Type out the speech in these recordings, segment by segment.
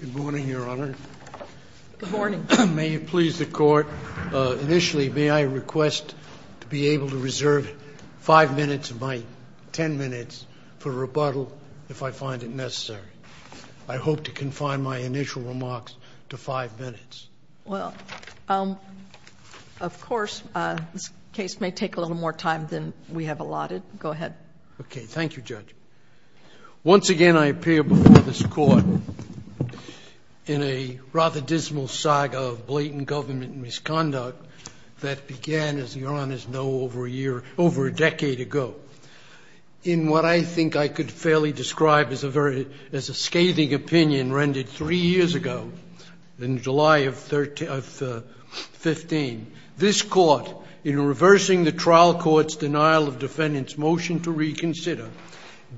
Good morning, Your Honor. Good morning. May it please the Court, initially, may I request to be able to reserve five minutes of my ten minutes for rebuttal if I find it necessary. I hope to confine my initial remarks to five minutes. Well, of course, this case may take a little more time than we have allotted. Go ahead. Okay. Thank you, Judge. Once again, I appear before this Court in a rather dismal saga of blatant government misconduct that began, as Your Honors know, over a year, over a decade ago. In what I think I could fairly describe as a scathing opinion rendered three years ago, in July of 15, this Court, in reversing the trial court's denial of defendant's motion to reconsider,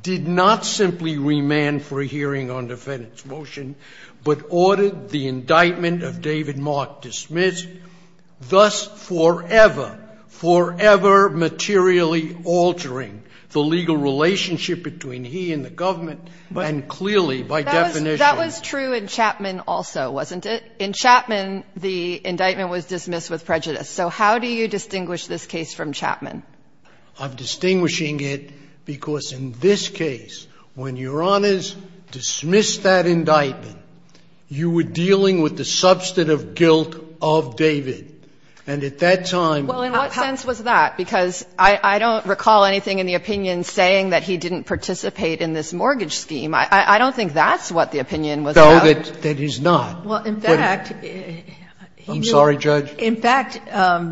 did not simply remand for a hearing on defendant's motion, but ordered the indictment of David Mark dismissed, thus forever, forever materially altering the legal relationship between he and the government, and clearly, by definition. That was true in Chapman also, wasn't it? In Chapman, the indictment was dismissed with prejudice. So how do you distinguish this case from Chapman? I'm distinguishing it because in this case, when Your Honors dismissed that indictment, you were dealing with the substantive guilt of David. And at that time, how do you? Well, in what sense was that? Because I don't recall anything in the opinion saying that he didn't participate in this mortgage scheme. I don't think that's what the opinion was about. No, that he's not. Well, in fact, he knew. I'm sorry, Judge. In fact,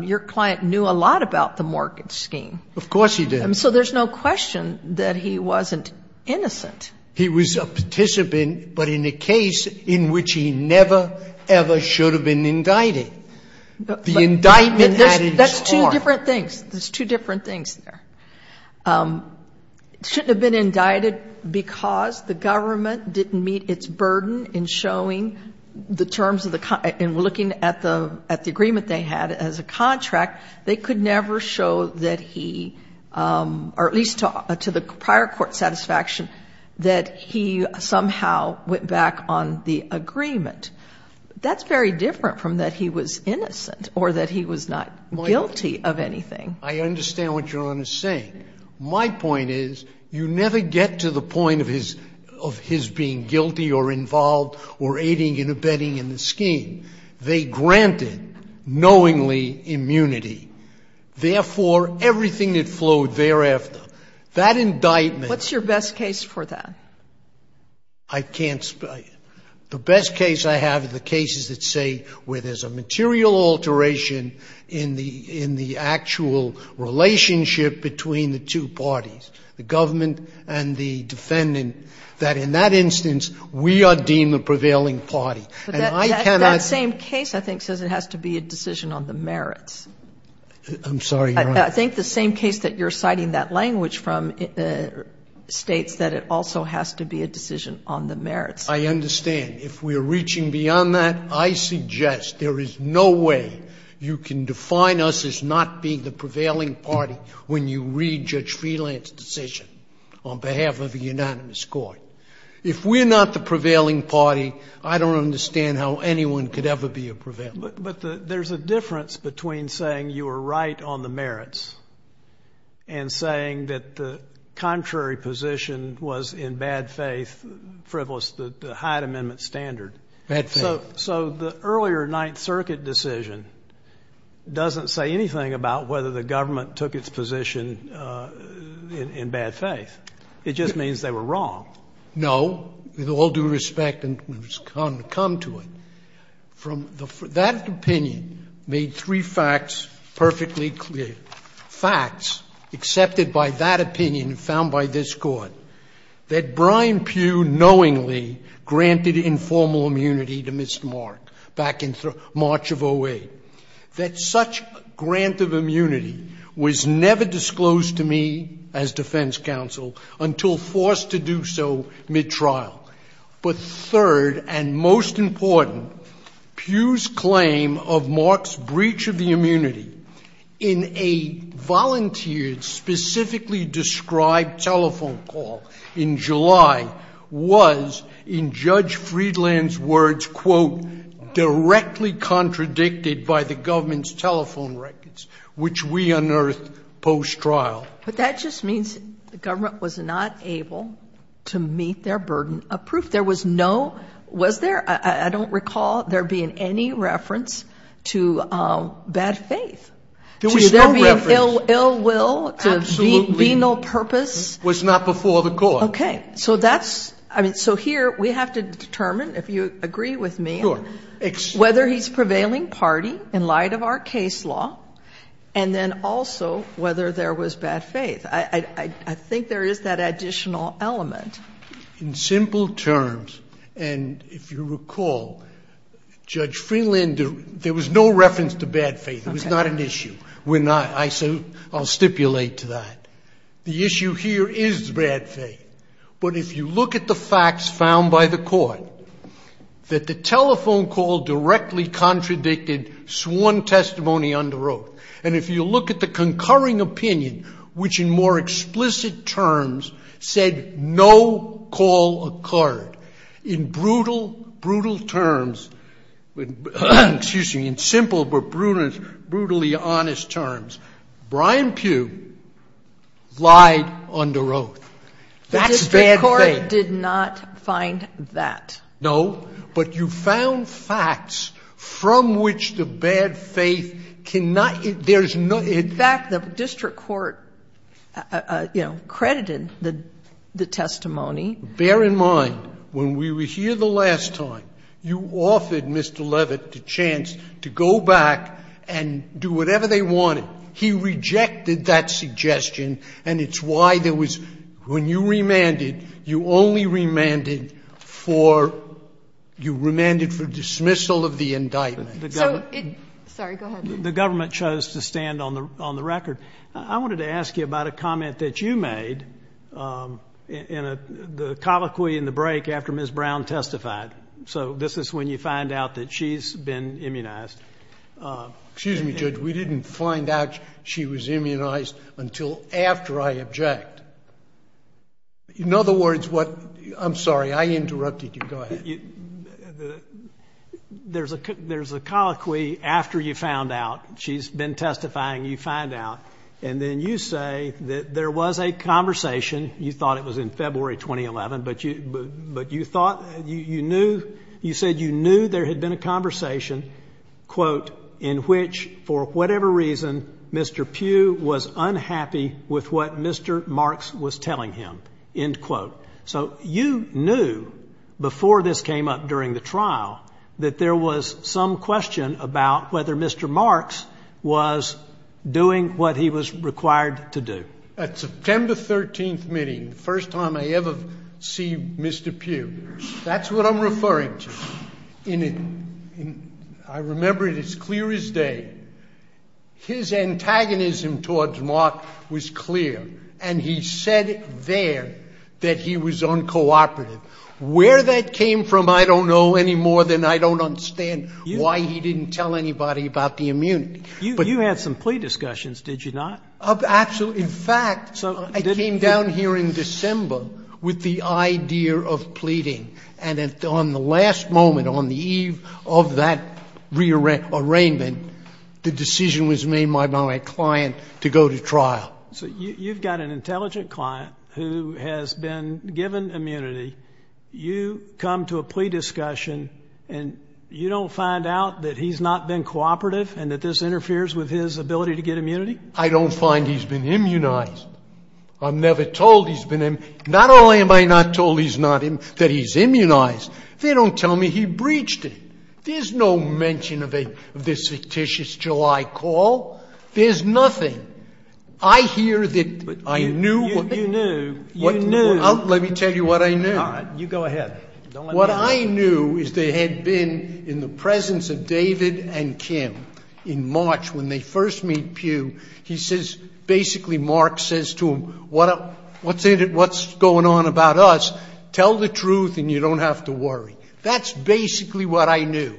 your client knew a lot about the mortgage scheme. Of course he did. So there's no question that he wasn't innocent. He was a participant, but in a case in which he never, ever should have been indicted. The indictment added its harm. That's two different things. There's two different things there. It shouldn't have been indicted because the government didn't meet its burden in showing the terms of the contract and looking at the agreement they had as a contract, they could never show that he, or at least to the prior court's satisfaction, that he somehow went back on the agreement. That's very different from that he was innocent or that he was not guilty of anything. I understand what Your Honor is saying. My point is you never get to the point of his being guilty or involved or aiding and abetting in the scheme. They granted knowingly immunity. Therefore, everything that flowed thereafter, that indictment What's your best case for that? I can't spell it. The best case I have are the cases that say where there's a material alteration in the actual relationship between the two parties, the government and the defendant, that in that instance we are deemed a prevailing party. But that same case I think says it has to be a decision on the merits. I'm sorry, Your Honor. I think the same case that you're citing that language from states that it also has to be a decision on the merits. I understand. If we are reaching beyond that, I suggest there is no way you can define us as not being the prevailing party when you read Judge Freeland's decision on behalf of a unanimous court. If we're not the prevailing party, I don't understand how anyone could ever be a prevailing party. But there's a difference between saying you were right on the merits and saying that the contrary position was in bad faith, frivolous, the Hyde Amendment standard. Bad faith. So the earlier Ninth Circuit decision doesn't say anything about whether the government took its position in bad faith. It just means they were wrong. No. With all due respect, and we've come to it, that opinion made three facts perfectly clear. Facts accepted by that opinion found by this Court that Brian Pugh knowingly granted informal immunity to Mr. Mark back in March of 08, that such grant of immunity was never disclosed to me as defense counsel until forced to do so mid-trial. But third, and most important, Pugh's claim of Mark's breach of the immunity in a judge Friedland's words, quote, directly contradicted by the government's telephone records, which we unearthed post-trial. But that just means the government was not able to meet their burden of proof. There was no, was there? I don't recall there being any reference to bad faith. There was no reference. To there being ill will, to be no purpose. Absolutely. It was not before the Court. Okay. So that's, I mean, so here we have to determine, if you agree with me, whether he's prevailing party in light of our case law, and then also whether there was bad faith. I think there is that additional element. In simple terms, and if you recall, Judge Friedland, there was no reference to bad faith. Okay. It was not an issue. We're not. I'll stipulate to that. The issue here is bad faith. But if you look at the facts found by the Court, that the telephone call directly contradicted sworn testimony under oath. And if you look at the concurring opinion, which in more explicit terms said no call occurred. In brutal, brutal terms, excuse me, in simple but brutally honest terms, Brian lied under oath. That's bad faith. The district court did not find that. No. But you found facts from which the bad faith cannot, there's no. In fact, the district court, you know, credited the testimony. Bear in mind, when we were here the last time, you offered Mr. Levitt the chance to go back and do whatever they wanted. No. He rejected that suggestion. And it's why there was, when you remanded, you only remanded for, you remanded for dismissal of the indictment. Sorry. Go ahead. The government chose to stand on the record. I wanted to ask you about a comment that you made in the colloquy in the break after Ms. Brown testified. So this is when you find out that she's been immunized. Excuse me, Judge. We didn't find out she was immunized until after I object. In other words, what, I'm sorry, I interrupted you. Go ahead. There's a colloquy after you found out she's been testifying, you find out, and then you say that there was a conversation. You thought it was in February 2011, but you thought, you knew, you said you knew there had been a conversation, quote, in which, for whatever reason, Mr. Pugh was unhappy with what Mr. Marks was telling him, end quote. So you knew before this came up during the trial that there was some question about whether Mr. Marks was doing what he was required to do. At September 13th meeting, the first time I ever see Mr. Pugh, that's what I'm referring to. I remember it as clear as day. His antagonism towards Mark was clear, and he said there that he was uncooperative. Where that came from I don't know any more than I don't understand why he didn't tell anybody about the immunity. You had some plea discussions, did you not? Absolutely. In fact, I came down here in December with the idea of pleading, and on the last moment on the eve of that arraignment, the decision was made by my client to go to trial. So you've got an intelligent client who has been given immunity. You come to a plea discussion, and you don't find out that he's not been cooperative and that this interferes with his ability to get immunity? I don't find he's been immunized. I'm never told he's been immunized. Not only am I not told he's not immunized, they don't tell me he breached it. There's no mention of this fictitious July call. There's nothing. I hear that I knew what they did. You knew. Let me tell you what I knew. You go ahead. What I knew is they had been in the presence of David and Kim in March when they first meet Pew, he says, basically, Mark says to him, what's going on about us, tell the truth and you don't have to worry. That's basically what I knew.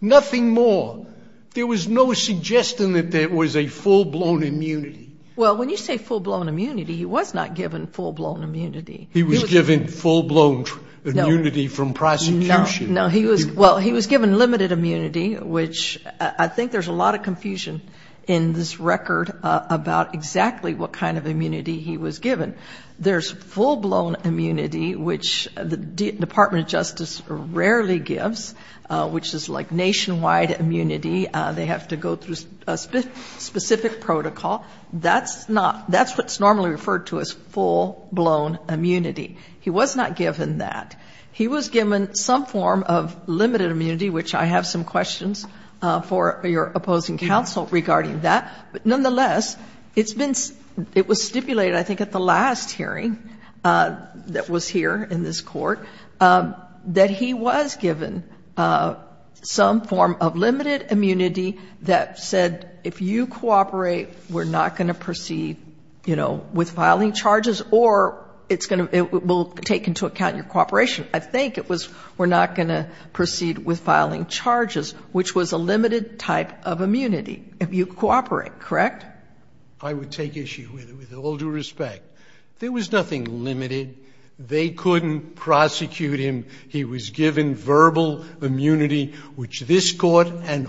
Nothing more. There was no suggestion that there was a full-blown immunity. Well, when you say full-blown immunity, he was not given full-blown immunity. He was given full-blown immunity from prosecution. No. Well, he was given limited immunity, which I think there's a lot of confusion in this record about exactly what kind of immunity he was given. There's full-blown immunity, which the Department of Justice rarely gives, which is like nationwide immunity. They have to go through a specific protocol. That's what's normally referred to as full-blown immunity. He was not given that. He was given some form of limited immunity, which I have some questions for your opposing counsel regarding that. But nonetheless, it was stipulated, I think, at the last hearing that was here in this Court, that he was given some form of limited immunity that said, if you cooperate, we're not going to proceed, you know, with filing charges, or it's going to take into account your cooperation. I think it was we're not going to proceed with filing charges, which was a limited type of immunity if you cooperate, correct? I would take issue with it, with all due respect. There was nothing limited. They couldn't prosecute him. He was given verbal immunity, which this Court and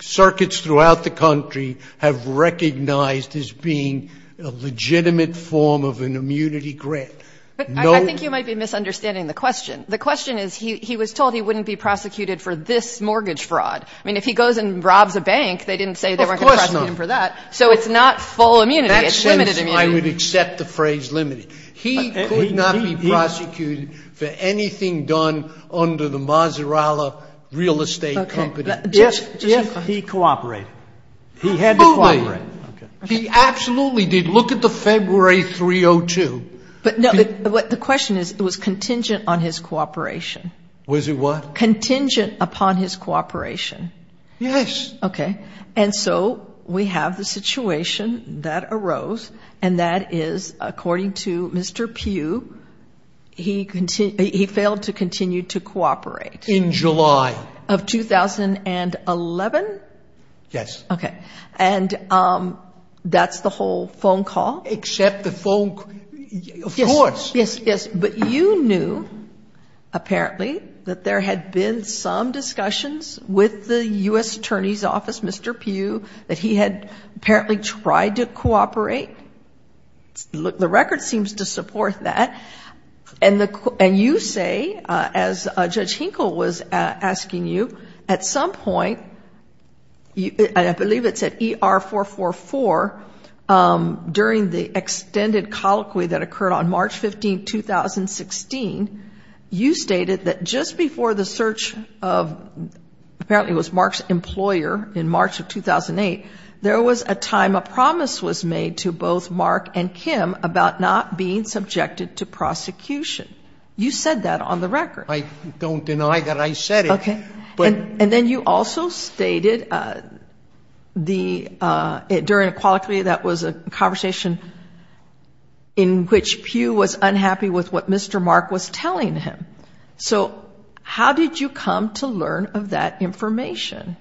circuits throughout the country have recognized as being a legitimate form of an immunity grant. No. But I think you might be misunderstanding the question. The question is he was told he wouldn't be prosecuted for this mortgage fraud. I mean, if he goes and robs a bank, they didn't say they weren't going to prosecute him for that. Of course not. So it's not full immunity. It's limited immunity. In that sense, I would accept the phrase limited. He could not be prosecuted for anything done under the Mazzarella Real Estate Company. Does he cooperate? He had to cooperate. Absolutely. He absolutely did. Look at the February 302. But the question is it was contingent on his cooperation. Was it what? Contingent upon his cooperation. Yes. Okay. And so we have the situation that arose, and that is, according to Mr. Pugh, he failed to continue to cooperate. In July. Of 2011? Yes. Okay. And that's the whole phone call? Except the phone call. Of course. Yes, yes. But you knew, apparently, that there had been some discussions with the U.S. Attorney's Office, Mr. Pugh, that he had apparently tried to cooperate. The record seems to support that. And you say, as Judge Hinkle was asking you, at some point, I believe it's at ER444, during the extended colloquy that occurred on March 15, 2016, you stated that just before the search of, apparently it was Mark's employer in March of 2008, there was a time a promise was made to both Mark and Kim about not being subjected to prosecution. You said that on the record. I don't deny that I said it. Okay. And then you also stated during a colloquy that was a conversation in which Pugh was unhappy with what Mr. Mark was telling him. So how did you come to learn of that information?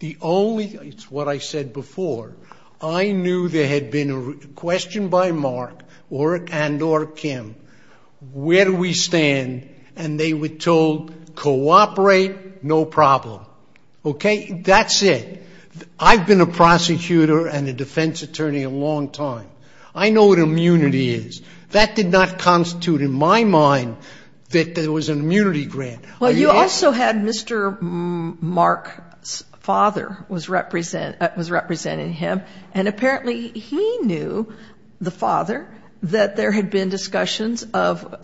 The only, it's what I said before, I knew there had been a question by Mark and or Kim, where do we stand? And they were told, cooperate, no problem. Okay, that's it. I've been a prosecutor and a defense attorney a long time. I know what immunity is. That did not constitute in my mind that there was an immunity grant. Well, you also had Mr. Mark's father was representing him. And apparently he knew, the father, that there had been discussions of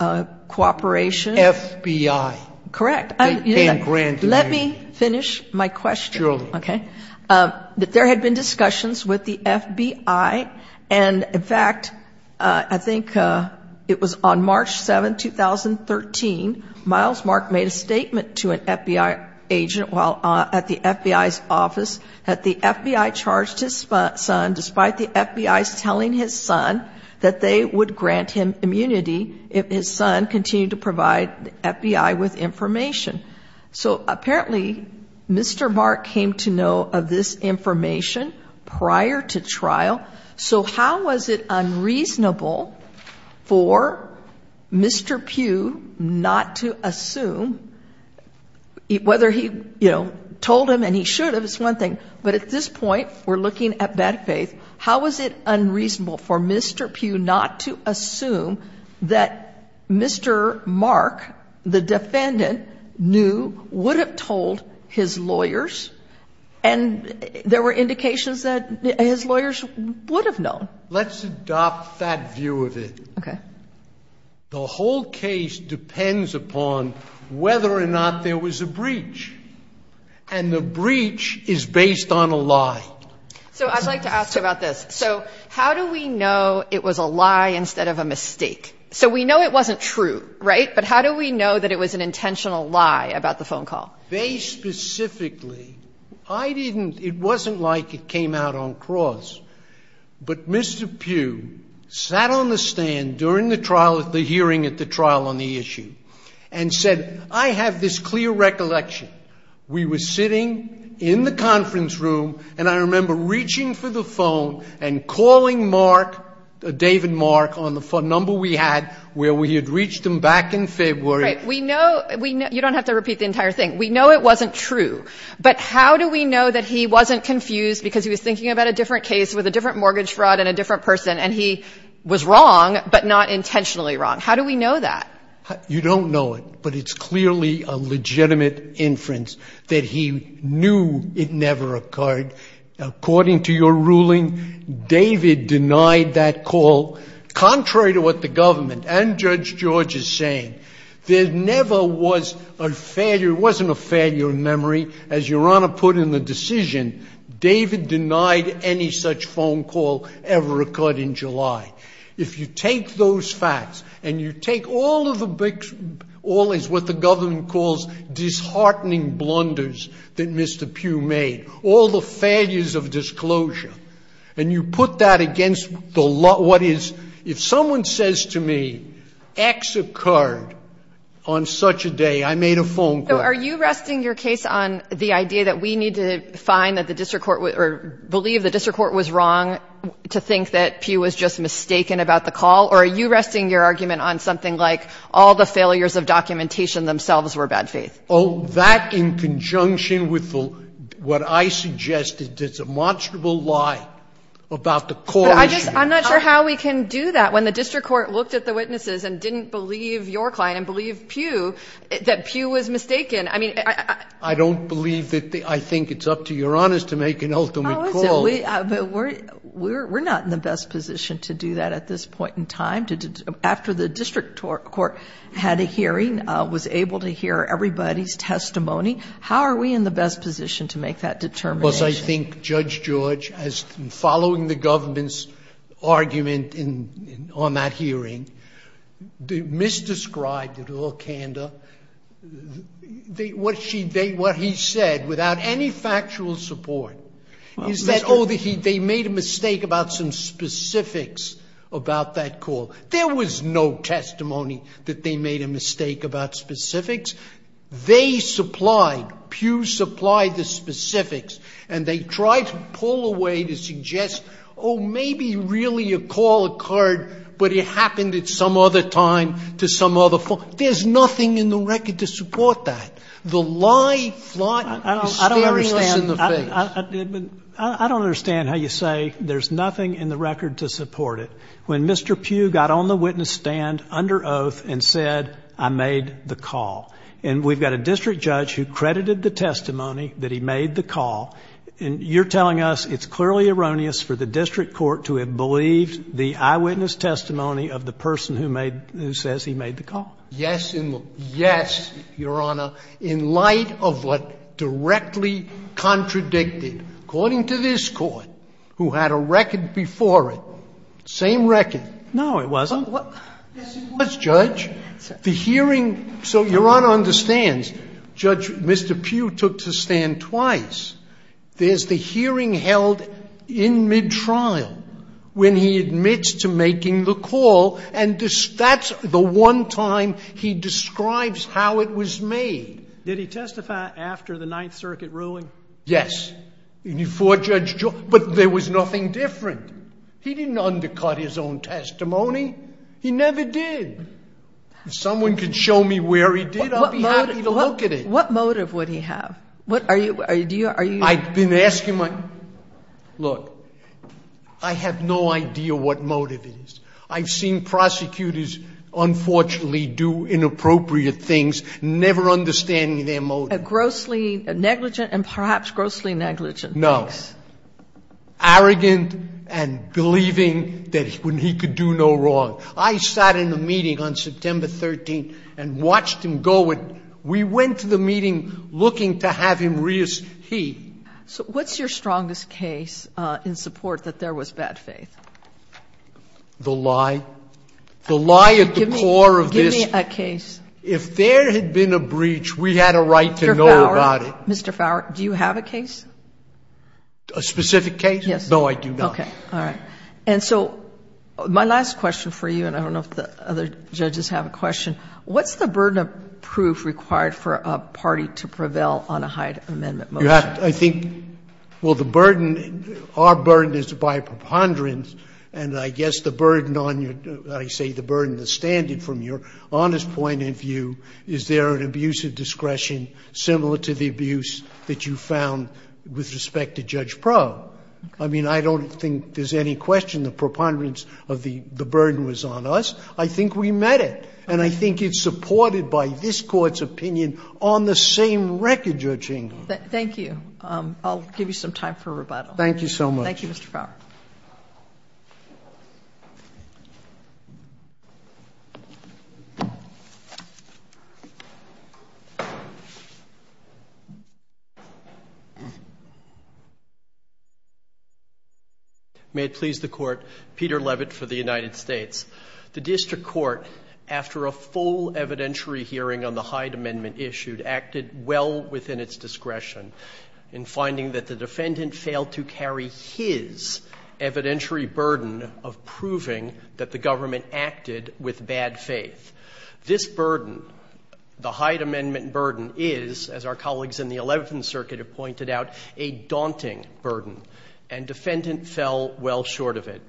cooperation. FBI. Correct. Let me finish my question. Okay. That there had been discussions with the FBI. And, in fact, I think it was on March 7, 2013, Miles Mark made a statement to an FBI agent while at the FBI's office that the FBI charged his son, despite the FBI's telling his son that they would grant him immunity if his son continued to provide the FBI with information. So apparently Mr. Mark came to know of this information prior to trial. So how was it unreasonable for Mr. Pugh not to assume, whether he told him, and he should have, it's one thing, but at this point we're looking at bad faith, how was it unreasonable for Mr. Pugh not to assume that Mr. Mark, the father, knew, would have told his lawyers, and there were indications that his lawyers would have known? Let's adopt that view of it. Okay. The whole case depends upon whether or not there was a breach. And the breach is based on a lie. So I'd like to ask you about this. So how do we know it was a lie instead of a mistake? So we know it wasn't true, right? But how do we know that it was an intentional lie about the phone call? They specifically, I didn't, it wasn't like it came out on cross. But Mr. Pugh sat on the stand during the trial, the hearing at the trial on the issue, and said, I have this clear recollection. We were sitting in the conference room, and I remember reaching for the phone and calling Mark, David Mark, on the phone number we had, where we had reached him back in February. Right. We know, you don't have to repeat the entire thing. We know it wasn't true. But how do we know that he wasn't confused because he was thinking about a different case with a different mortgage fraud and a different person, and he was wrong, but not intentionally wrong? How do we know that? You don't know it, but it's clearly a legitimate inference that he knew it never occurred. According to your ruling, David denied that call, contrary to what the government and Judge George is saying. There never was a failure, it wasn't a failure in memory, as Your Honor put in the decision. David denied any such phone call ever occurred in July. If you take those facts, and you take all of the big, all of what the government calls disheartening blunders that Mr. Pugh made, all the failures of disclosure, and you put that against what is, if someone says to me, X occurred on such a day, I made a phone call. So are you resting your case on the idea that we need to find that the district court, or believe the district court was wrong to think that Pugh was just mistaken about the call, or are you resting your argument on something like all the failures of documentation themselves were bad faith? Oh, that in conjunction with what I suggested is a monstrous lie about the call. I'm not sure how we can do that when the district court looked at the witnesses and didn't believe your client and believe Pugh, that Pugh was mistaken. I don't believe that, I think it's up to Your Honor to make an ultimate call. We're not in the best position to do that at this point in time. After the district court had a hearing, was able to hear everybody's testimony, how are we in the best position to make that determination? Because I think Judge George, following the government's argument on that hearing, misdescribed it all candor. What he said, without any factual support, is that, oh, they made a mistake about some specifics about that call. There was no testimony that they made a mistake about specifics. They supplied, Pugh supplied the specifics, and they tried to pull away to suggest, oh, maybe really a call occurred, but it happened at some other time to some other form. There's nothing in the record to support that. The lie, flaunt, hysteria is in the face. I don't understand how you say there's nothing in the record to support it. When Mr. Pugh got on the witness stand under oath and said, I made the call, and we've got a district judge who credited the testimony that he made the call, and you're telling us it's clearly erroneous for the district court to have believed the eyewitness testimony of the person who says he made the call. Yes, Your Honor. I'm not saying it's erroneous. I'm saying it's erroneous in light of what directly contradicted. According to this Court, who had a record before it, same record. No, it wasn't. Yes, it was, Judge. The hearing, so Your Honor understands, Judge, Mr. Pugh took to stand twice. There's the hearing held in mid-trial when he admits to making the call, and that's the one time he describes how it was made. Did he testify after the Ninth Circuit ruling? Yes. And he forejudged, but there was nothing different. He didn't undercut his own testimony. He never did. If someone could show me where he did, I'd be happy to look at it. What motive would he have? I've been asking my, look, I have no idea what motive it is. I've seen prosecutors, unfortunately, do inappropriate things, never understanding their motive. Grossly negligent and perhaps grossly negligent. No. Arrogant and believing that he could do no wrong. I sat in a meeting on September 13th and watched him go. We went to the meeting looking to have him rehearse. So what's your strongest case in support that there was bad faith? The lie. The lie at the core of this. Give me a case. If there had been a breach, we had a right to know about it. Mr. Fowler, do you have a case? A specific case? Yes. No, I do not. Okay. All right. And so my last question for you, and I don't know if the other judges have a question, what's the burden of proof required for a party to prevail on a Hyde Amendment motion? I think, well, the burden, our burden is by preponderance, and I guess the burden on your, I say the burden, the standard from your honest point of view, is there an abuse of discretion similar to the abuse that you found with respect to Judge Probe? I mean, I don't think there's any question the preponderance of the burden was on us. I think we met it. And I think it's supported by this Court's opinion on the same record, Judge Engler. Thank you. I'll give you some time for rebuttal. Thank you so much. Thank you, Mr. Fowler. May it please the Court. Peter Levitt for the United States. The district court, after a full evidentiary hearing on the Hyde Amendment issued, acted well within its discretion in finding that the defendant failed to carry his evidentiary burden of proving that the government acted with bad faith. This burden, the Hyde Amendment burden, is, as our colleagues in the Eleventh Circuit have pointed out, a daunting burden, and defendant fell well short of it.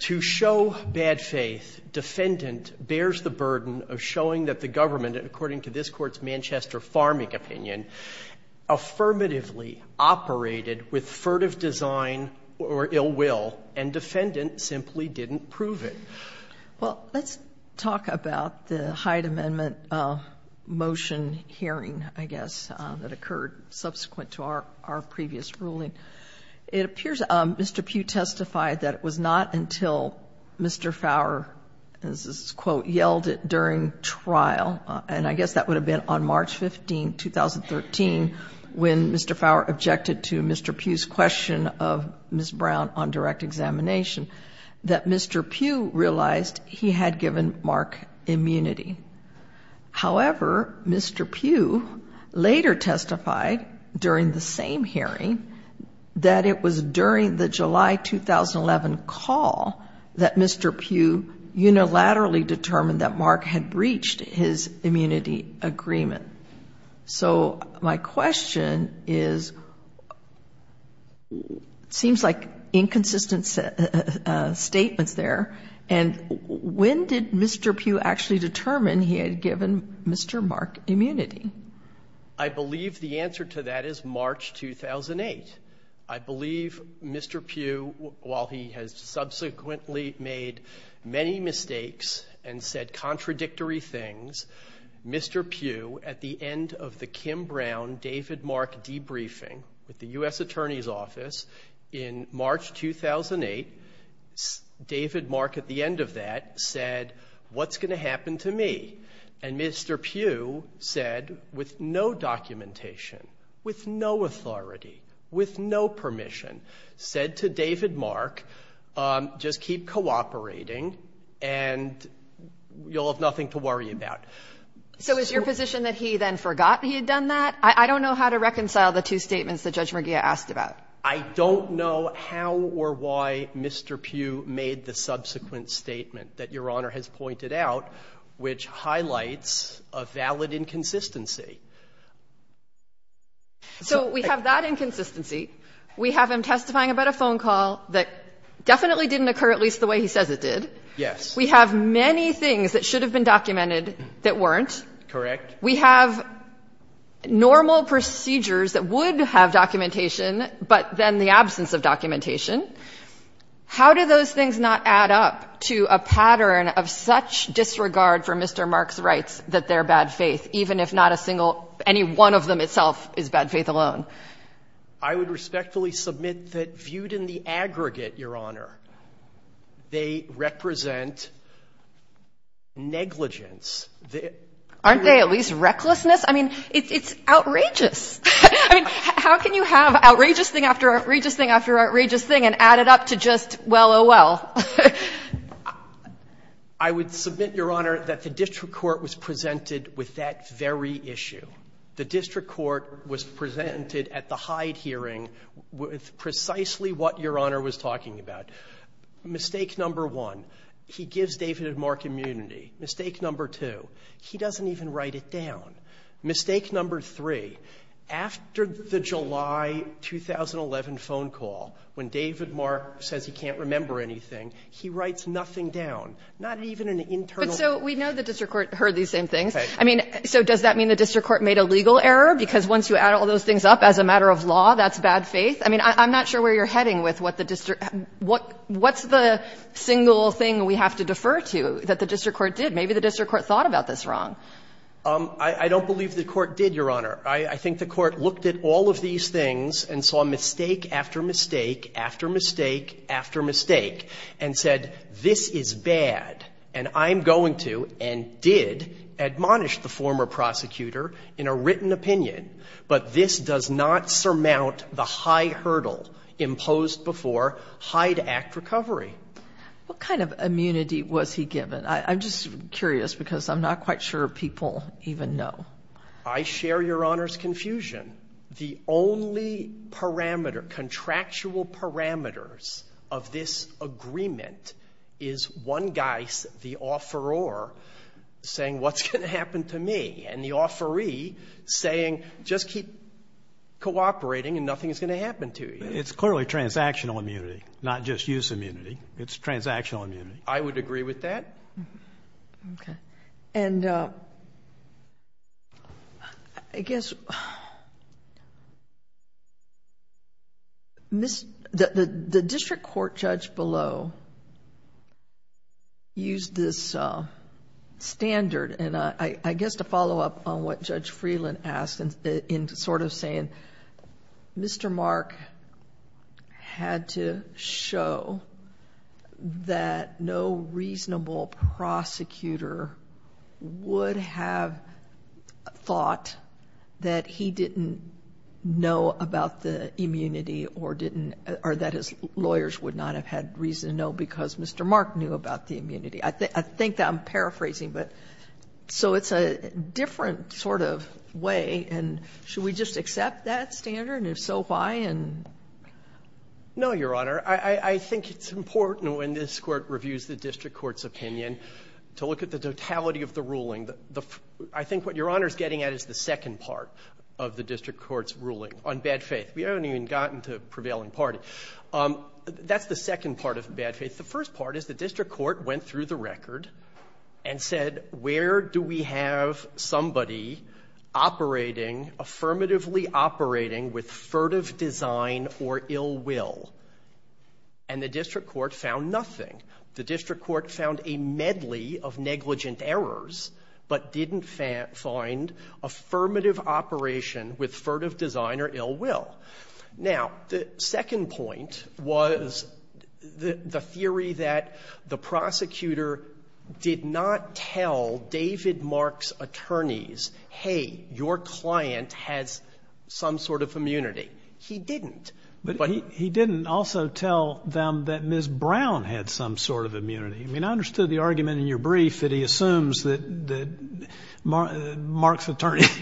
To show bad faith, defendant bears the burden of showing that the government, according to this Court's Manchester Farming opinion, affirmatively operated with furtive design or ill will, and defendant simply didn't prove it. Well, let's talk about the Hyde Amendment motion hearing, I guess, that occurred subsequent to our previous ruling. It appears Mr. Pugh testified that it was not until Mr. Fowler, as this quote, yelled it during trial, and I guess that would have been on March 15, 2013, when Mr. Fowler objected to Mr. Pugh's question of Ms. Brown on direct examination, that Mr. Pugh realized he had given Mark immunity. However, Mr. Pugh later testified during the same hearing that it was during the July 2011 call that Mr. Pugh unilaterally determined that Mark had breached his immunity agreement. So my question is, seems like inconsistent statements there, and when did Mr. Pugh actually determine he had given Mr. Mark immunity? I believe the answer to that is March 2008. I believe Mr. Pugh, while he has subsequently made many mistakes and said contradictory things, Mr. Pugh, at the end of the Kim Brown-David Mark debriefing at the U.S. Attorney's Office in March 2008, David Mark at the end of that said, what's going to happen to me? And Mr. Pugh said, with no documentation, with no authority, with no permission, said to David Mark, just keep cooperating and you'll have nothing to worry about. So is your position that he then forgot that he had done that? I don't know how to reconcile the two statements that Judge Murgia asked about. I don't know how or why Mr. Pugh made the subsequent statement that Your Honor has pointed out, which highlights a valid inconsistency. So we have that inconsistency. We have him testifying about a phone call that definitely didn't occur, at least the way he says it did. Yes. We have many things that should have been documented that weren't. Correct. of documentation. How do those things not add up to a pattern of such disregard for Mr. Mark's rights that they're bad faith, even if not a single, any one of them itself is bad faith alone? I would respectfully submit that viewed in the aggregate, Your Honor, they represent negligence. Aren't they at least recklessness? I mean, it's outrageous. I mean, how can you have outrageous thing after outrageous thing after outrageous thing and add it up to just well, oh, well? I would submit, Your Honor, that the district court was presented with that very issue. The district court was presented at the Hyde hearing with precisely what Your Honor was talking about. Mistake number one, he gives David and Mark immunity. Mistake number two, he doesn't even write it down. Mistake number three, after the July 2011 phone call, when David Mark says he can't remember anything, he writes nothing down, not even an internal. But so we know the district court heard these same things. Right. I mean, so does that mean the district court made a legal error? Because once you add all those things up as a matter of law, that's bad faith? I mean, I'm not sure where you're heading with what the district – what's the single thing we have to defer to that the district court did? Maybe the district court thought about this wrong. I don't believe the court did, Your Honor. I think the court looked at all of these things and saw mistake after mistake after mistake after mistake and said, this is bad, and I'm going to and did admonish the former prosecutor in a written opinion, but this does not surmount the high hurdle imposed before Hyde Act recovery. What kind of immunity was he given? I'm just curious because I'm not quite sure people even know. I share Your Honor's confusion. The only parameter, contractual parameters of this agreement is one guy, the offeror, saying, what's going to happen to me? And the offeree saying, just keep cooperating and nothing is going to happen to you. It's clearly transactional immunity, not just use immunity. It's transactional immunity. I would agree with that. Okay. I guess, the district court judge below used this standard and I guess to follow up on what Judge Freeland asked in sort of saying, Mr. Mark had to show that no reasonable prosecutor would have thought that he didn't know about the immunity or that his lawyers would not have had reason to know because Mr. Mark knew about the immunity. I think that I'm paraphrasing, but so it's a different sort of way and should we just accept that standard and if so, why? No, Your Honor. I think it's important when this Court reviews the district court's opinion to look at the totality of the ruling. I think what Your Honor is getting at is the second part of the district court's ruling on bad faith. We haven't even gotten to prevailing party. That's the second part of bad faith. The first part is the district court went through the record and said where do we have somebody operating, affirmatively operating with furtive design or ill will? And the district court found nothing. The district court found a medley of negligent errors, but didn't find affirmative operation with furtive design or ill will. Now, the second point was the theory that the prosecutor did not tell David Mark's attorneys, hey, your client has some sort of immunity. He didn't. But he didn't also tell them that Ms. Brown had some sort of immunity. I mean, I understood the argument in your brief that he assumes that Mark's attorneys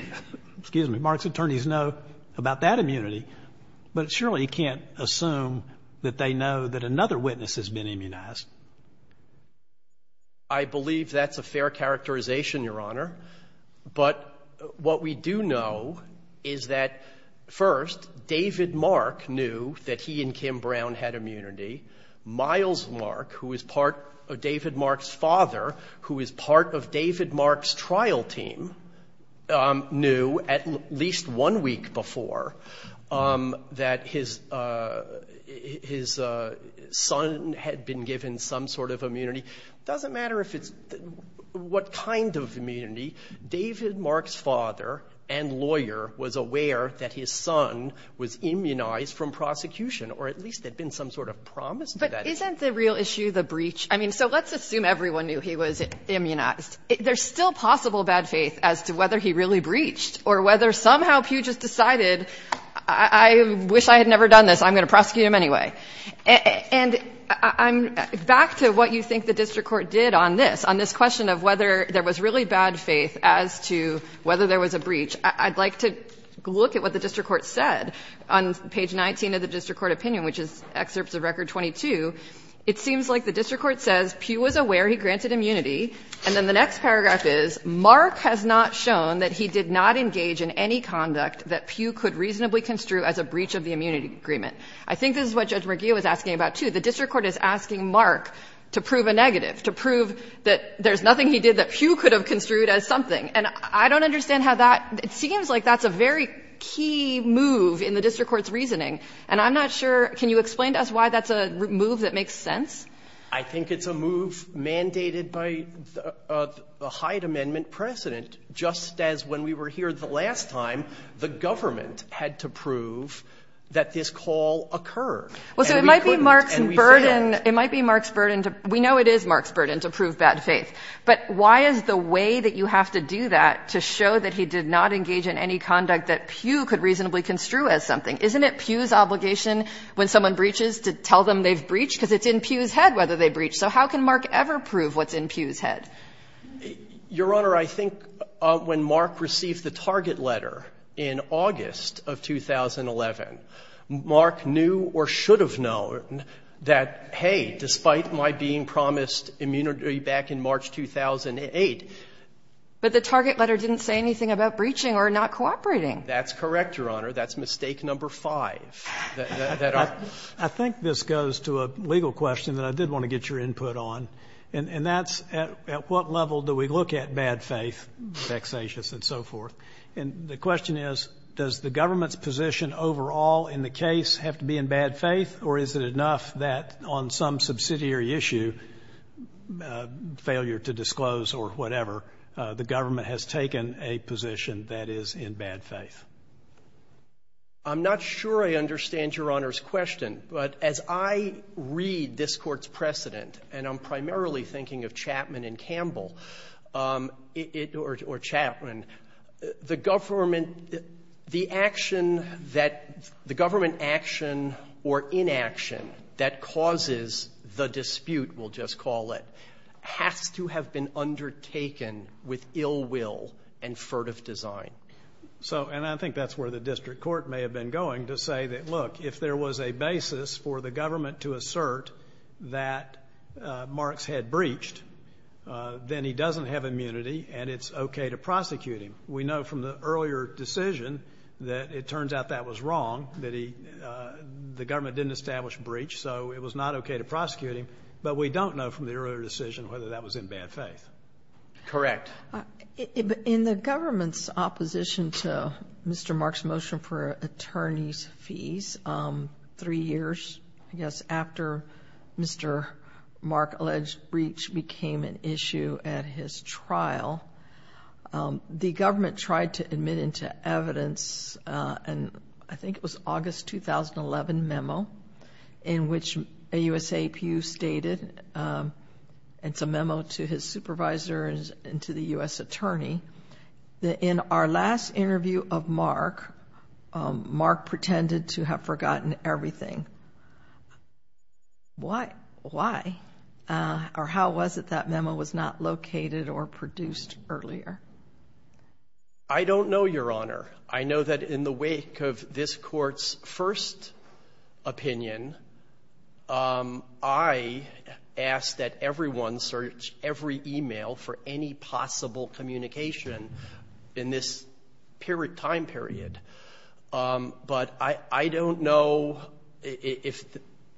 know about that immunity, but surely he can't assume that they know that another witness has been immunized. I believe that's a fair characterization, Your Honor. But what we do know is that, first, David Mark knew that he and Kim Brown had immunity. Miles Mark, who is part of David Mark's father, who is part of David Mark's trial team, knew at least one week before that his son had been given some sort of immunity. It doesn't matter what kind of immunity. David Mark's father and lawyer was aware that his son was immunized from prosecution, or at least there had been some sort of promise to that. But isn't the real issue the breach? I mean, so let's assume everyone knew he was immunized. There's still possible bad faith as to whether he really breached or whether somehow Pew just decided, I wish I had never done this. I'm going to prosecute him anyway. And I'm back to what you think the district court did on this, on this question of whether there was really bad faith as to whether there was a breach. I'd like to look at what the district court said on page 19 of the district court opinion, which is excerpts of Record 22. It seems like the district court says Pew was aware he granted immunity. And then the next paragraph is, Mark has not shown that he did not engage in any conduct that Pew could reasonably construe as a breach of the immunity agreement. I think this is what Judge Merguia was asking about, too. The district court is asking Mark to prove a negative, to prove that there's nothing he did that Pew could have construed as something. And I don't understand how that — it seems like that's a very key move in the district court's reasoning. And I'm not sure — can you explain to us why that's a move that makes sense? I think it's a move mandated by the Hyde Amendment precedent, just as when we were here the last time, the government had to prove that this call occurred. And we couldn't, and we failed. Well, so it might be Mark's burden — it might be Mark's burden to — we know it is Mark's burden to prove bad faith. But why is the way that you have to do that to show that he did not engage in any conduct that Pew could reasonably construe as something? Isn't it Pew's obligation when someone breaches to tell them they've breached? Because it's in Pew's head whether they breached. So how can Mark ever prove what's in Pew's head? Your Honor, I think when Mark received the target letter in August of 2011, Mark knew or should have known that, hey, despite my being promised immunity back in March 2008 — But the target letter didn't say anything about breaching or not cooperating. That's correct, Your Honor. That's mistake number five. I think this goes to a legal question that I did want to get your input on, and that's at what level do we look at bad faith, vexatious and so forth. And the question is, does the government's position overall in the case have to be in bad faith, or is it enough that on some subsidiary issue, failure to disclose or whatever, the government has taken a position that is in bad faith? I'm not sure I understand Your Honor's question, but as I read this Court's precedent, and I'm primarily thinking of Chapman and Campbell or Chapman, the government — the action that — the government action or inaction that causes the dispute, we'll just call it, has to have been undertaken with ill will and furtive design. So, and I think that's where the district court may have been going to say that, look, if there was a basis for the government to assert that Marks had breached, then he doesn't have immunity and it's okay to prosecute him. We know from the earlier decision that it turns out that was wrong, that he — the government didn't establish breach, so it was not okay to prosecute him. But we don't know from the earlier decision whether that was in bad faith. Correct. In the government's opposition to Mr. Marks' motion for attorney's fees, three years, I guess, after Mr. Mark alleged breach became an issue at his trial, the government tried to admit into evidence, and I think it was August 2011 memo, in which a USAPU stated, it's a memo to his supervisor and to the U.S. attorney, that in our last interview of Mark, Mark pretended to have forgotten everything. Why? Why? Or how was it that memo was not located or produced earlier? I don't know, Your Honor. I know that in the wake of this Court's first opinion, I asked that everyone search every email for any possible communication in this period — time period. But I don't know if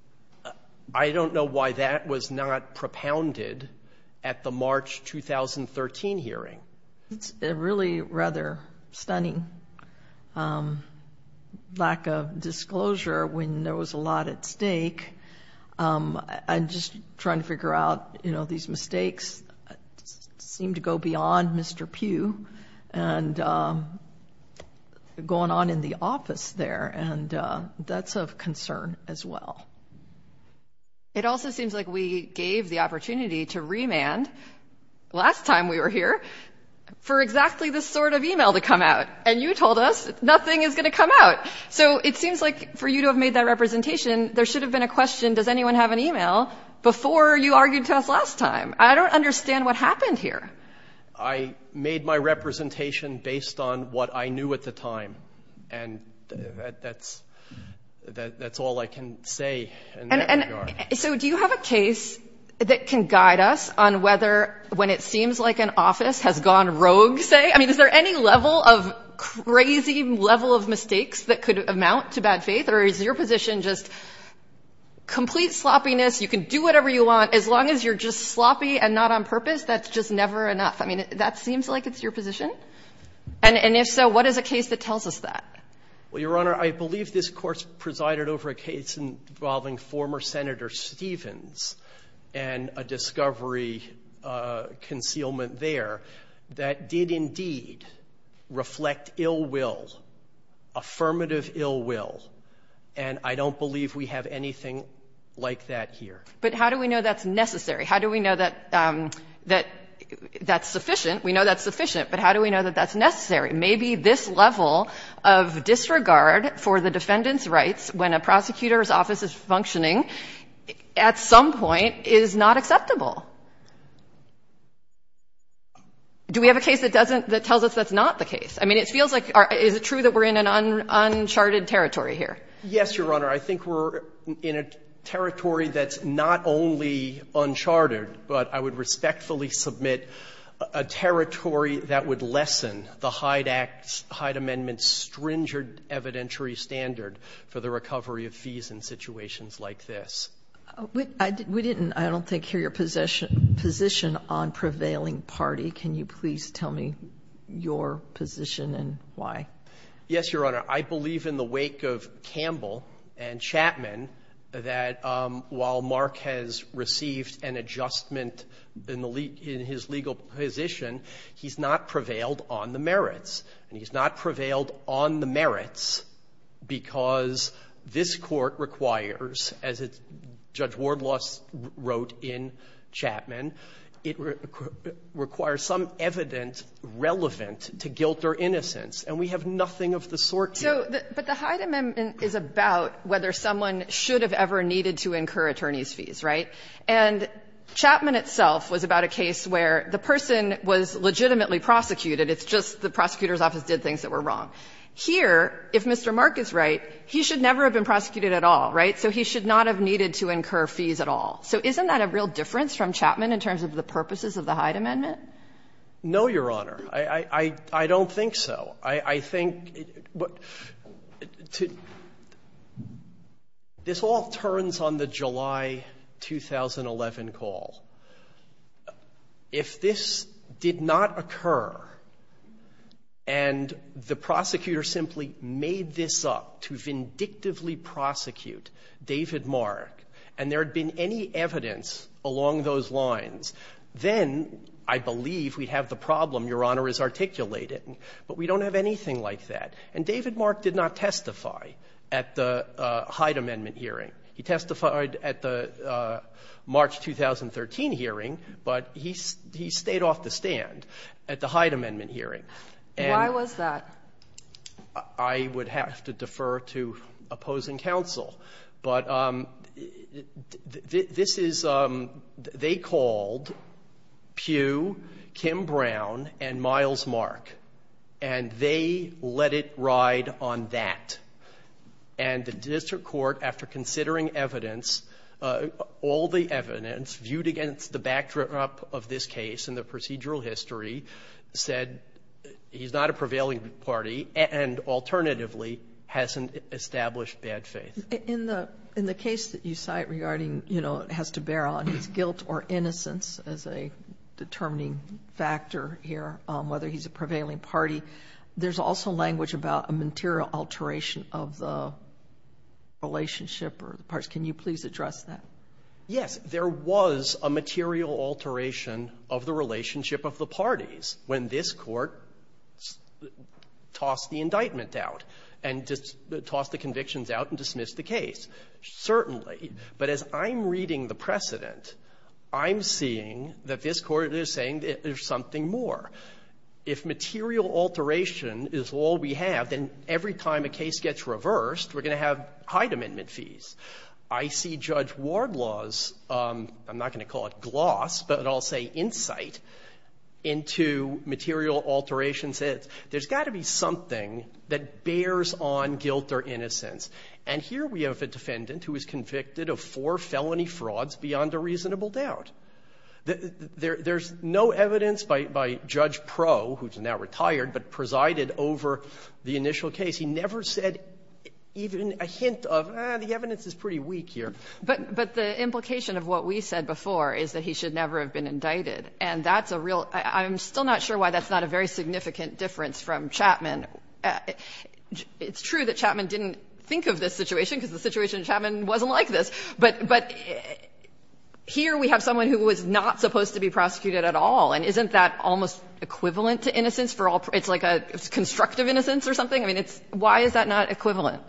— I don't know why that was not propounded at the March 2013 hearing. It's a really rather stunning lack of disclosure when there was a lot at stake. I'm just trying to figure out, you know, these mistakes seem to go beyond Mr. Pugh and going on in the office there, and that's of concern as well. It also seems like we gave the opportunity to remand, last time we were here, for exactly this sort of email to come out, and you told us nothing is going to come out. So it seems like for you to have made that representation, there should have been a question, does anyone have an email, before you argued to us last time. I don't understand what happened here. I made my representation based on what I knew at the time. And that's all I can say in that regard. So do you have a case that can guide us on whether, when it seems like an office has gone rogue, say? I mean, is there any level of crazy level of mistakes that could amount to bad faith? Or is your position just complete sloppiness, you can do whatever you want, as long as you're just sloppy and not on purpose, that's just never enough? I mean, that seems like it's your position? And if so, what is a case that tells us that? Well, Your Honor, I believe this Court presided over a case involving former Senator Stevens and a discovery concealment there that did indeed reflect ill will, affirmative ill will. And I don't believe we have anything like that here. But how do we know that's necessary? How do we know that that's sufficient? We know that's sufficient, but how do we know that that's necessary? Maybe this level of disregard for the defendant's rights, when a prosecutor's office is functioning, at some point is not acceptable. Do we have a case that doesn't, that tells us that's not the case? I mean, it feels like, is it true that we're in an uncharted territory here? Yes, Your Honor. I think we're in a territory that's not only uncharted, but I would respectfully submit a territory that would lessen the Hyde Act's, Hyde Amendment's stringent evidentiary standard for the recovery of fees in situations like this. We didn't, I don't think, hear your position on prevailing party. Can you please tell me your position and why? Yes, Your Honor. I believe in the wake of Campbell and Chapman that while Mark has received an adjustment in his legal position, he's not prevailed on the merits. And he's not prevailed on the merits because this Court requires, as Judge Wardloss wrote in Chapman, it requires some evidence relevant to guilt or innocence. And we have nothing of the sort here. But the Hyde Amendment is about whether someone should have ever needed to incur attorneys' fees, right? And Chapman itself was about a case where the person was legitimately prosecuted. It's just the prosecutor's office did things that were wrong. Here, if Mr. Mark is right, he should never have been prosecuted at all, right? So he should not have needed to incur fees at all. So isn't that a real difference from Chapman in terms of the purposes of the Hyde Amendment? No, Your Honor. I don't think so. I think this all turns on the July 2011 call. If this did not occur and the prosecutor simply made this up to vindictively prosecute David Mark and there had been any evidence along those lines, then I believe we'd have the problem Your Honor has articulated. But we don't have anything like that. And David Mark did not testify at the Hyde Amendment hearing. He testified at the March 2013 hearing, but he stayed off the stand at the Hyde Amendment hearing. And why was that? I would have to defer to opposing counsel. But this is they called Pugh, Kim Brown, and Miles Mark, and they let it ride on that. And the district court, after considering evidence, all the evidence viewed against the backdrop of this case and the procedural history, said he's not a prevailing party and alternatively hasn't established bad faith. In the case that you cite regarding, you know, has to bear on his guilt or innocence as a determining factor here, whether he's a prevailing party, there's also language about a material alteration of the relationship or the parties. Can you please address that? Yes. There was a material alteration of the relationship of the parties when this court tossed the indictment out and tossed the convictions out and dismissed the case. Certainly. But as I'm reading the precedent, I'm seeing that this court is saying there's something more. If material alteration is all we have, then every time a case gets reversed, we're going to have Hyde Amendment fees. I see Judge Wardlaw's, I'm not going to call it gloss, but I'll say insight, into material alterations. There's got to be something that bears on guilt or innocence. And here we have a defendant who is convicted of four felony frauds beyond a reasonable doubt. There's no evidence by Judge Proe, who's now retired, but presided over the initial case. He never said even a hint of, ah, the evidence is pretty weak here. But the implication of what we said before is that he should never have been indicted. And that's a real – I'm still not sure why that's not a very significant difference from Chapman. It's true that Chapman didn't think of this situation, because the situation in Chapman wasn't like this. But here we have someone who was not supposed to be prosecuted at all. And isn't that almost equivalent to innocence for all – it's like a constructive innocence or something? I mean, it's – why is that not equivalent?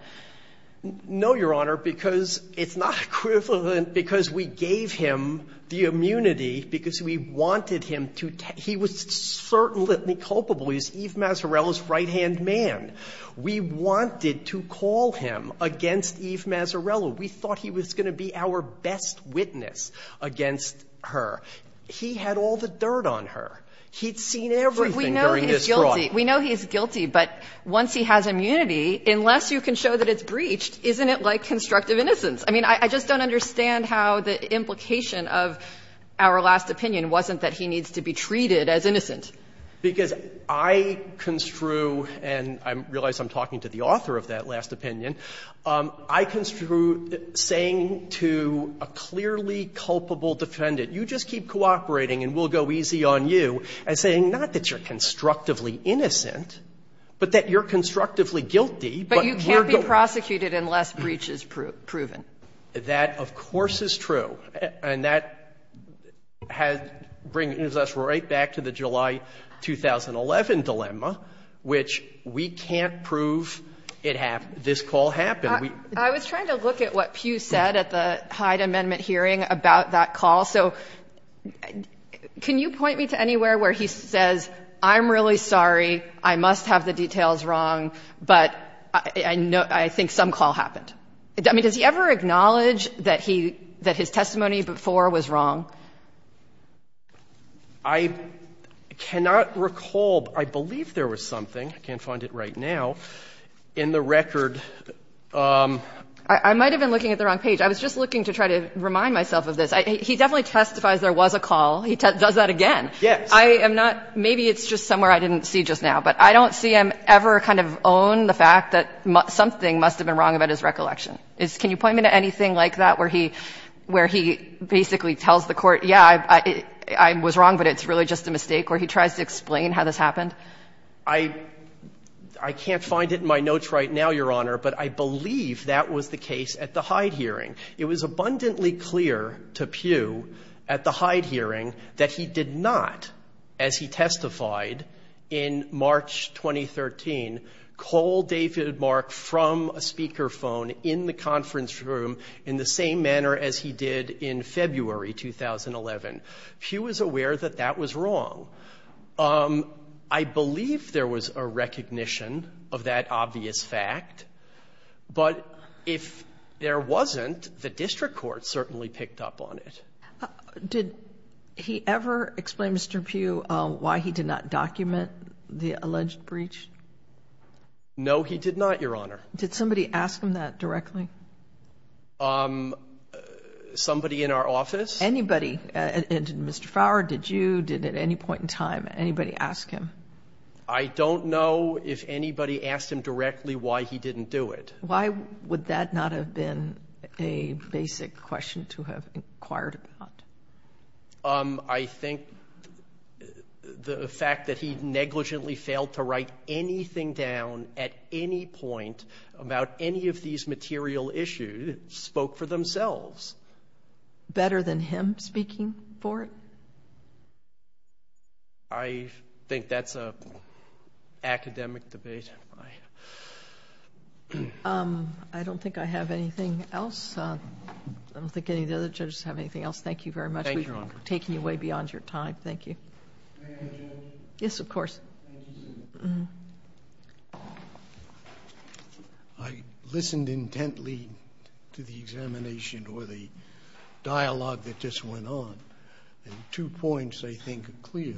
No, Your Honor, because it's not equivalent because we gave him the immunity because we wanted him to – he was certain litany culpable. He's Eve Mazzarella's right-hand man. We wanted to call him against Eve Mazzarella. We thought he was going to be our best witness against her. He had all the dirt on her. He'd seen everything during this fraud. So we know he's guilty. We know he's guilty. But once he has immunity, unless you can show that it's breached, isn't it like constructive innocence? I mean, I just don't understand how the implication of our last opinion wasn't that he needs to be treated as innocent. Because I construe, and I realize I'm talking to the author of that last opinion, I construe saying to a clearly culpable defendant, you just keep cooperating and we'll go easy on you, as saying not that you're constructively innocent, but that you're constructively guilty. But you can't be prosecuted unless breach is proven. That, of course, is true. And that has – brings us right back to the July 2011 dilemma, which we can't prove it happened, this call happened. I was trying to look at what Pew said at the Hyde Amendment hearing about that call. So can you point me to anywhere where he says, I'm really sorry, I must have the details wrong, but I think some call happened. I mean, does he ever acknowledge that his testimony before was wrong? I cannot recall, but I believe there was something, I can't find it right now, in the record. I might have been looking at the wrong page. I was just looking to try to remind myself of this. He definitely testifies there was a call. He does that again. Yes. I am not – maybe it's just somewhere I didn't see just now. But I don't see him ever kind of own the fact that something must have been wrong about his recollection. Can you point me to anything like that, where he basically tells the Court, yeah, I was wrong, but it's really just a mistake, where he tries to explain how this happened? I can't find it in my notes right now, Your Honor, but I believe that was the case at the Hyde hearing. It was abundantly clear to Pugh at the Hyde hearing that he did not, as he testified in March 2013, call David Mark from a speakerphone in the conference room in the same manner as he did in February 2011. Pugh was aware that that was wrong. I believe there was a recognition of that obvious fact. But if there wasn't, the district court certainly picked up on it. Did he ever explain, Mr. Pugh, why he did not document the alleged breach? No, he did not, Your Honor. Did somebody ask him that directly? Somebody in our office? Anybody. And did Mr. Fowler, did you, did at any point in time anybody ask him? I don't know if anybody asked him directly why he didn't do it. Why would that not have been a basic question to have inquired about? I think the fact that he negligently failed to write anything down at any point about any of these material issues spoke for themselves. Better than him speaking for it? I think that's an academic debate. I don't think I have anything else. I don't think any of the other judges have anything else. Thank you very much. Thank you, Your Honor. We've taken you way beyond your time. Thank you. May I have a judgment? Yes, of course. I listened intently to the examination or the dialogue that just went on. Two points I think are clear.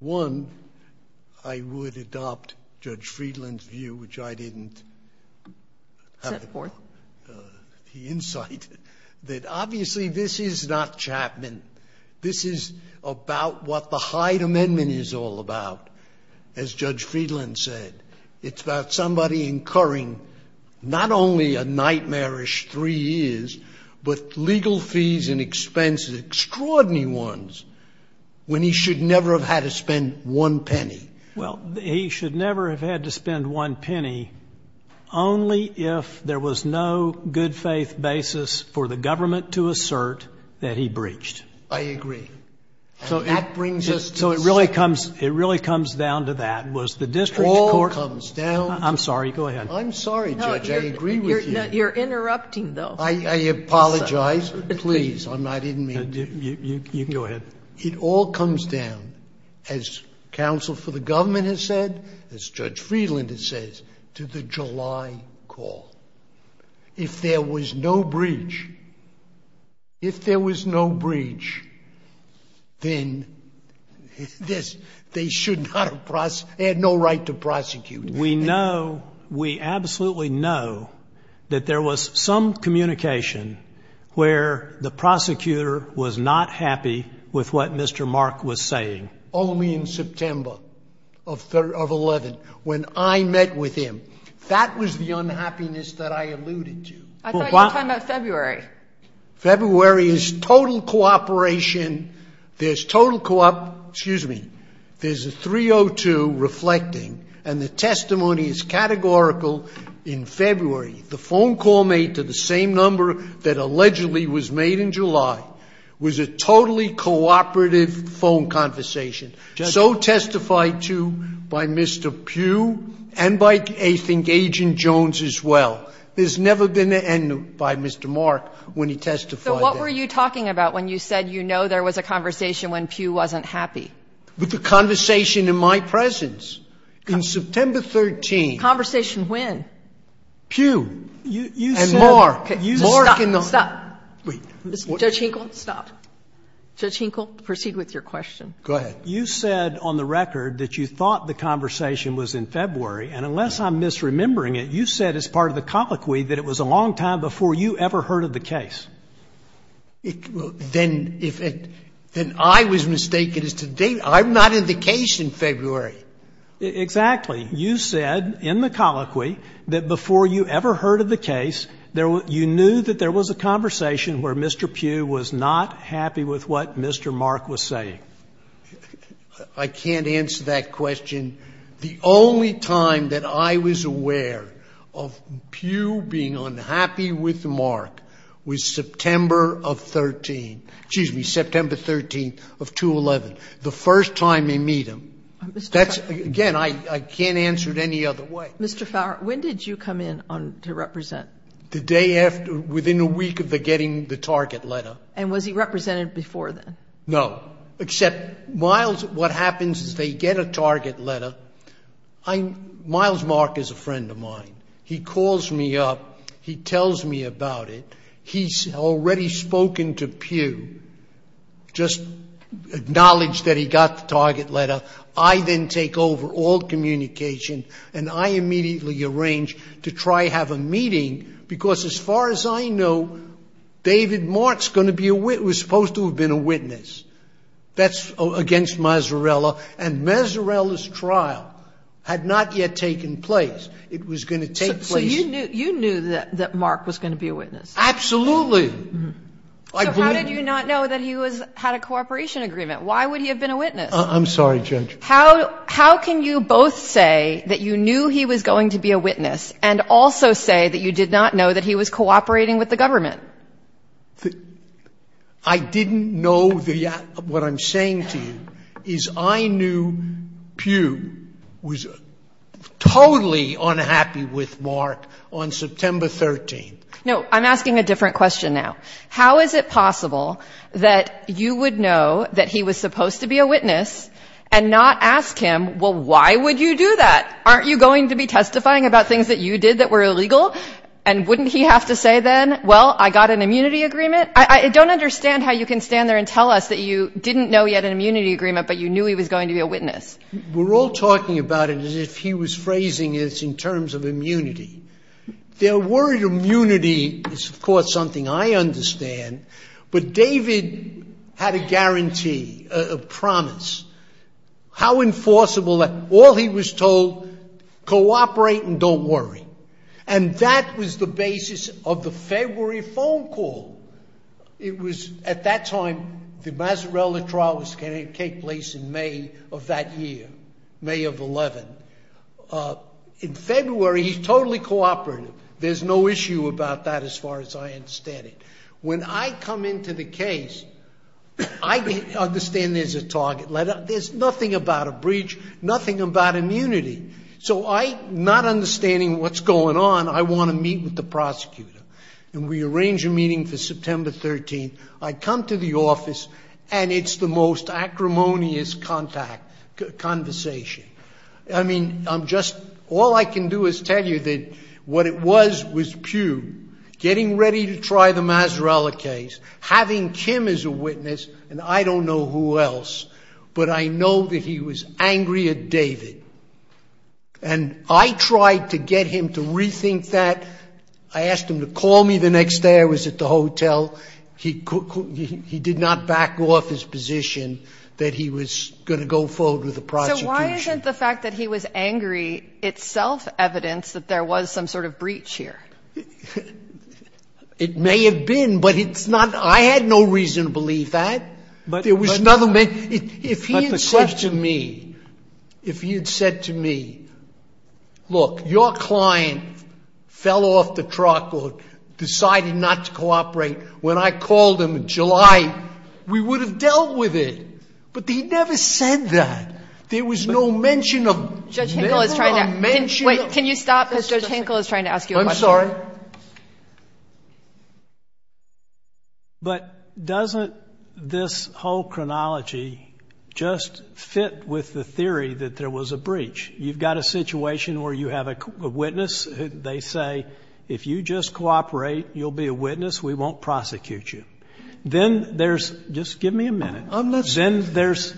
One, I would adopt Judge Friedland's view, which I didn't have the insight, that obviously this is not Chapman. This is about what the Hyde Amendment is all about, as Judge Friedland said. It's about somebody incurring not only a nightmarish three years, but legal fees and expenses, extraordinary ones, when he should never have had to spend one penny. Well, he should never have had to spend one penny, only if there was no good faith basis for the government to assert that he breached. I agree. And that brings us to this. So it really comes down to that. It all comes down. I'm sorry. Go ahead. I'm sorry, Judge. I agree with you. You're interrupting, though. I apologize. Please. I didn't mean to. Go ahead. It all comes down, as counsel for the government has said, as Judge Friedland has said, to the July call. If there was no breach, if there was no breach, then they had no right to prosecute. We know, we absolutely know, that there was some communication where the prosecutor was not happy with what Mr. Mark was saying. Only in September of 11, when I met with him. That was the unhappiness that I alluded to. I thought you were talking about February. February is total cooperation. There's total, excuse me, there's a 302 reflecting, and the testimony is categorical in February. The phone call made to the same number that allegedly was made in July was a totally cooperative phone conversation. So testified to by Mr. Pugh and by, I think, Agent Jones as well. There's never been an end by Mr. Mark when he testified. So what were you talking about when you said you know there was a conversation when Pugh wasn't happy? With the conversation in my presence. In September 13. Conversation when? Pugh. And Mark. Mark and the other. Stop. Wait. Judge Hinkle, stop. Judge Hinkle, proceed with your question. Go ahead. You said on the record that you thought the conversation was in February, and unless I'm misremembering it, you said as part of the colloquy that it was a long time before you ever heard of the case. Then I was mistaken as to date. I'm not in the case in February. Exactly. You said in the colloquy that before you ever heard of the case, you knew that there was a conversation where Mr. Pugh was not happy with what Mr. Mark was saying. I can't answer that question. The only time that I was aware of Pugh being unhappy with Mark was September of 13. Excuse me, September 13 of 211, the first time they meet him. That's, again, I can't answer it any other way. Mr. Fowler, when did you come in to represent? The day after, within a week of getting the target letter. And was he represented before then? No, except what happens is they get a target letter. Miles Mark is a friend of mine. He calls me up. He tells me about it. He's already spoken to Pugh, just acknowledged that he got the target letter. I then take over all communication, and I immediately arrange to try to have a meeting, because as far as I know, David Mark was supposed to have been a witness. That's against Mazarella, and Mazarella's trial had not yet taken place. It was going to take place. So you knew that Mark was going to be a witness? Absolutely. So how did you not know that he had a cooperation agreement? Why would he have been a witness? I'm sorry, Judge. How can you both say that you knew he was going to be a witness and also say that you did not know that he was cooperating with the government? I didn't know the — what I'm saying to you is I knew Pugh was totally unhappy with Mark on September 13th. No, I'm asking a different question now. How is it possible that you would know that he was supposed to be a witness and not ask him, well, why would you do that? Aren't you going to be testifying about things that you did that were illegal? And wouldn't he have to say then, well, I got an immunity agreement? I don't understand how you can stand there and tell us that you didn't know he had an immunity agreement, but you knew he was going to be a witness. We're all talking about it as if he was phrasing it in terms of immunity. Their worried immunity is, of course, something I understand. But David had a guarantee, a promise, how enforceable that all he was told, cooperate and don't worry. And that was the basis of the February phone call. It was at that time the Mazzarella trial was going to take place in May of that year, May of 11. In February, he's totally cooperative. There's no issue about that as far as I understand it. When I come into the case, I understand there's a target letter. There's nothing about a breach, nothing about immunity. So I, not understanding what's going on, I want to meet with the prosecutor. And we arrange a meeting for September 13th. I come to the office, and it's the most acrimonious conversation. I mean, I'm just, all I can do is tell you that what it was was Pugh getting ready to try the Mazzarella case, having Kim as a witness, and I don't know who else. But I know that he was angry at David. And I tried to get him to rethink that. I asked him to call me the next day I was at the hotel. He did not back off his position that he was going to go forward with the prosecution. So why isn't the fact that he was angry itself evidence that there was some sort of breach here? It may have been, but it's not. I had no reason to believe that. If he had said to me, if he had said to me, look, your client fell off the truck or decided not to cooperate when I called him in July, we would have dealt with it. But he never said that. There was no mention of it. Wait, can you stop? Because Judge Hinkle is trying to ask you a question. I'm sorry. But doesn't this whole chronology just fit with the theory that there was a breach? You've got a situation where you have a witness, they say, if you just cooperate, you'll be a witness, we won't prosecute you. Then there's, just give me a minute, then there's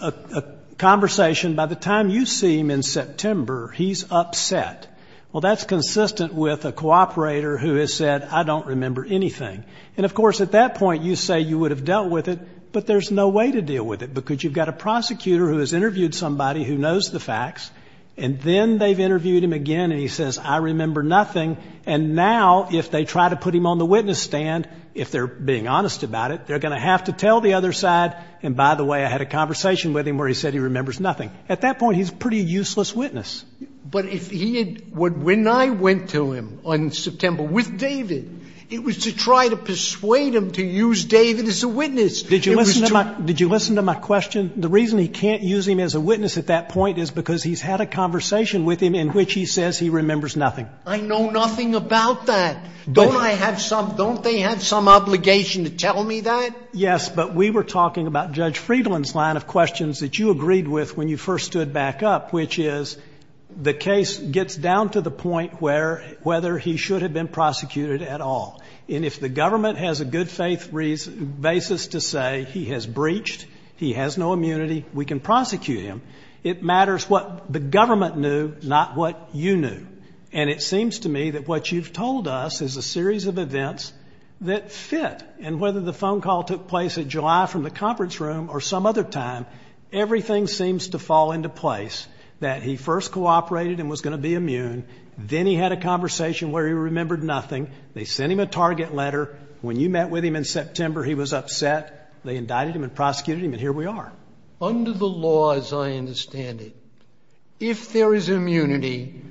a conversation, by the time you see him in September, he's upset. Well, that's consistent with a cooperator who has said, I don't remember anything. And, of course, at that point, you say you would have dealt with it, but there's no way to deal with it, because you've got a prosecutor who has interviewed somebody who knows the facts, and then they've interviewed him again, and he says, I remember nothing. And now, if they try to put him on the witness stand, if they're being honest about it, they're going to have to tell the other side, and, by the way, I had a conversation with him where he said he remembers nothing. At that point, he's a pretty useless witness. But if he had, when I went to him in September with David, it was to try to persuade him to use David as a witness. Did you listen to my question? The reason he can't use him as a witness at that point is because he's had a conversation with him in which he says he remembers nothing. I know nothing about that. Don't I have some, don't they have some obligation to tell me that? Yes, but we were talking about Judge Friedland's line of questions that you agreed with when you first stood back up, which is the case gets down to the point where, whether he should have been prosecuted at all. And if the government has a good faith basis to say he has breached, he has no immunity, we can prosecute him, it matters what the government knew, not what you knew. And it seems to me that what you've told us is a series of events that fit. And whether the phone call took place in July from the conference room or some other time, everything seems to fall into place, that he first cooperated and was going to be immune. Then he had a conversation where he remembered nothing. They sent him a target letter. When you met with him in September, he was upset. They indicted him and prosecuted him, and here we are. Under the law, as I understand it, if there is immunity,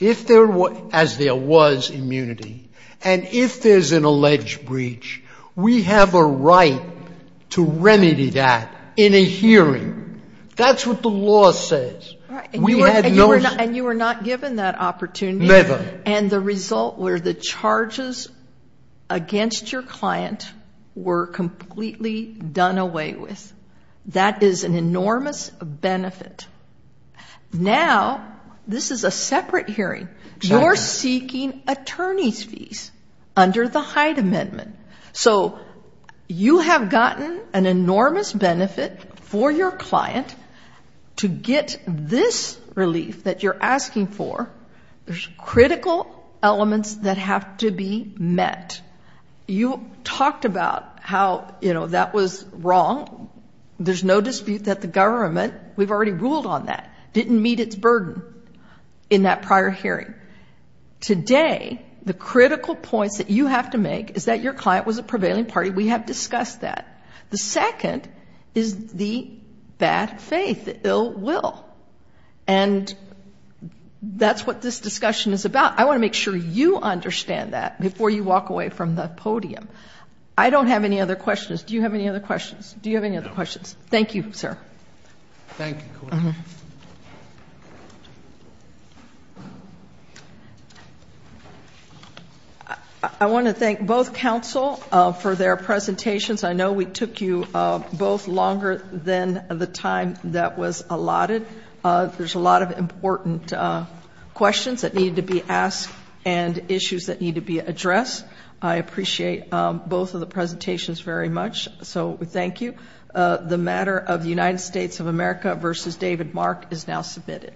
as there was immunity, and if there's an alleged breach, we have a right to remedy that in a hearing. That's what the law says. And you were not given that opportunity. Never. And the result were the charges against your client were completely done away with. That is an enormous benefit. Now, this is a separate hearing. You're seeking attorney's fees under the Hyde Amendment. So you have gotten an enormous benefit for your client to get this relief that you're asking for. There's critical elements that have to be met. You talked about how, you know, that was wrong. There's no dispute that the government, we've already ruled on that, didn't meet its burden in that prior hearing. Today, the critical points that you have to make is that your client was a prevailing party. We have discussed that. The second is the bad faith, the ill will. And that's what this discussion is about. I want to make sure you understand that before you walk away from the podium. I don't have any other questions. Do you have any other questions? Do you have any other questions? Thank you, sir. Thank you. I want to thank both counsel for their presentations. I know we took you both longer than the time that was allotted. There's a lot of important questions that need to be asked and issues that need to be addressed. I appreciate both of the presentations very much, so thank you. The matter of the United States of America v. David Mark is now submitted.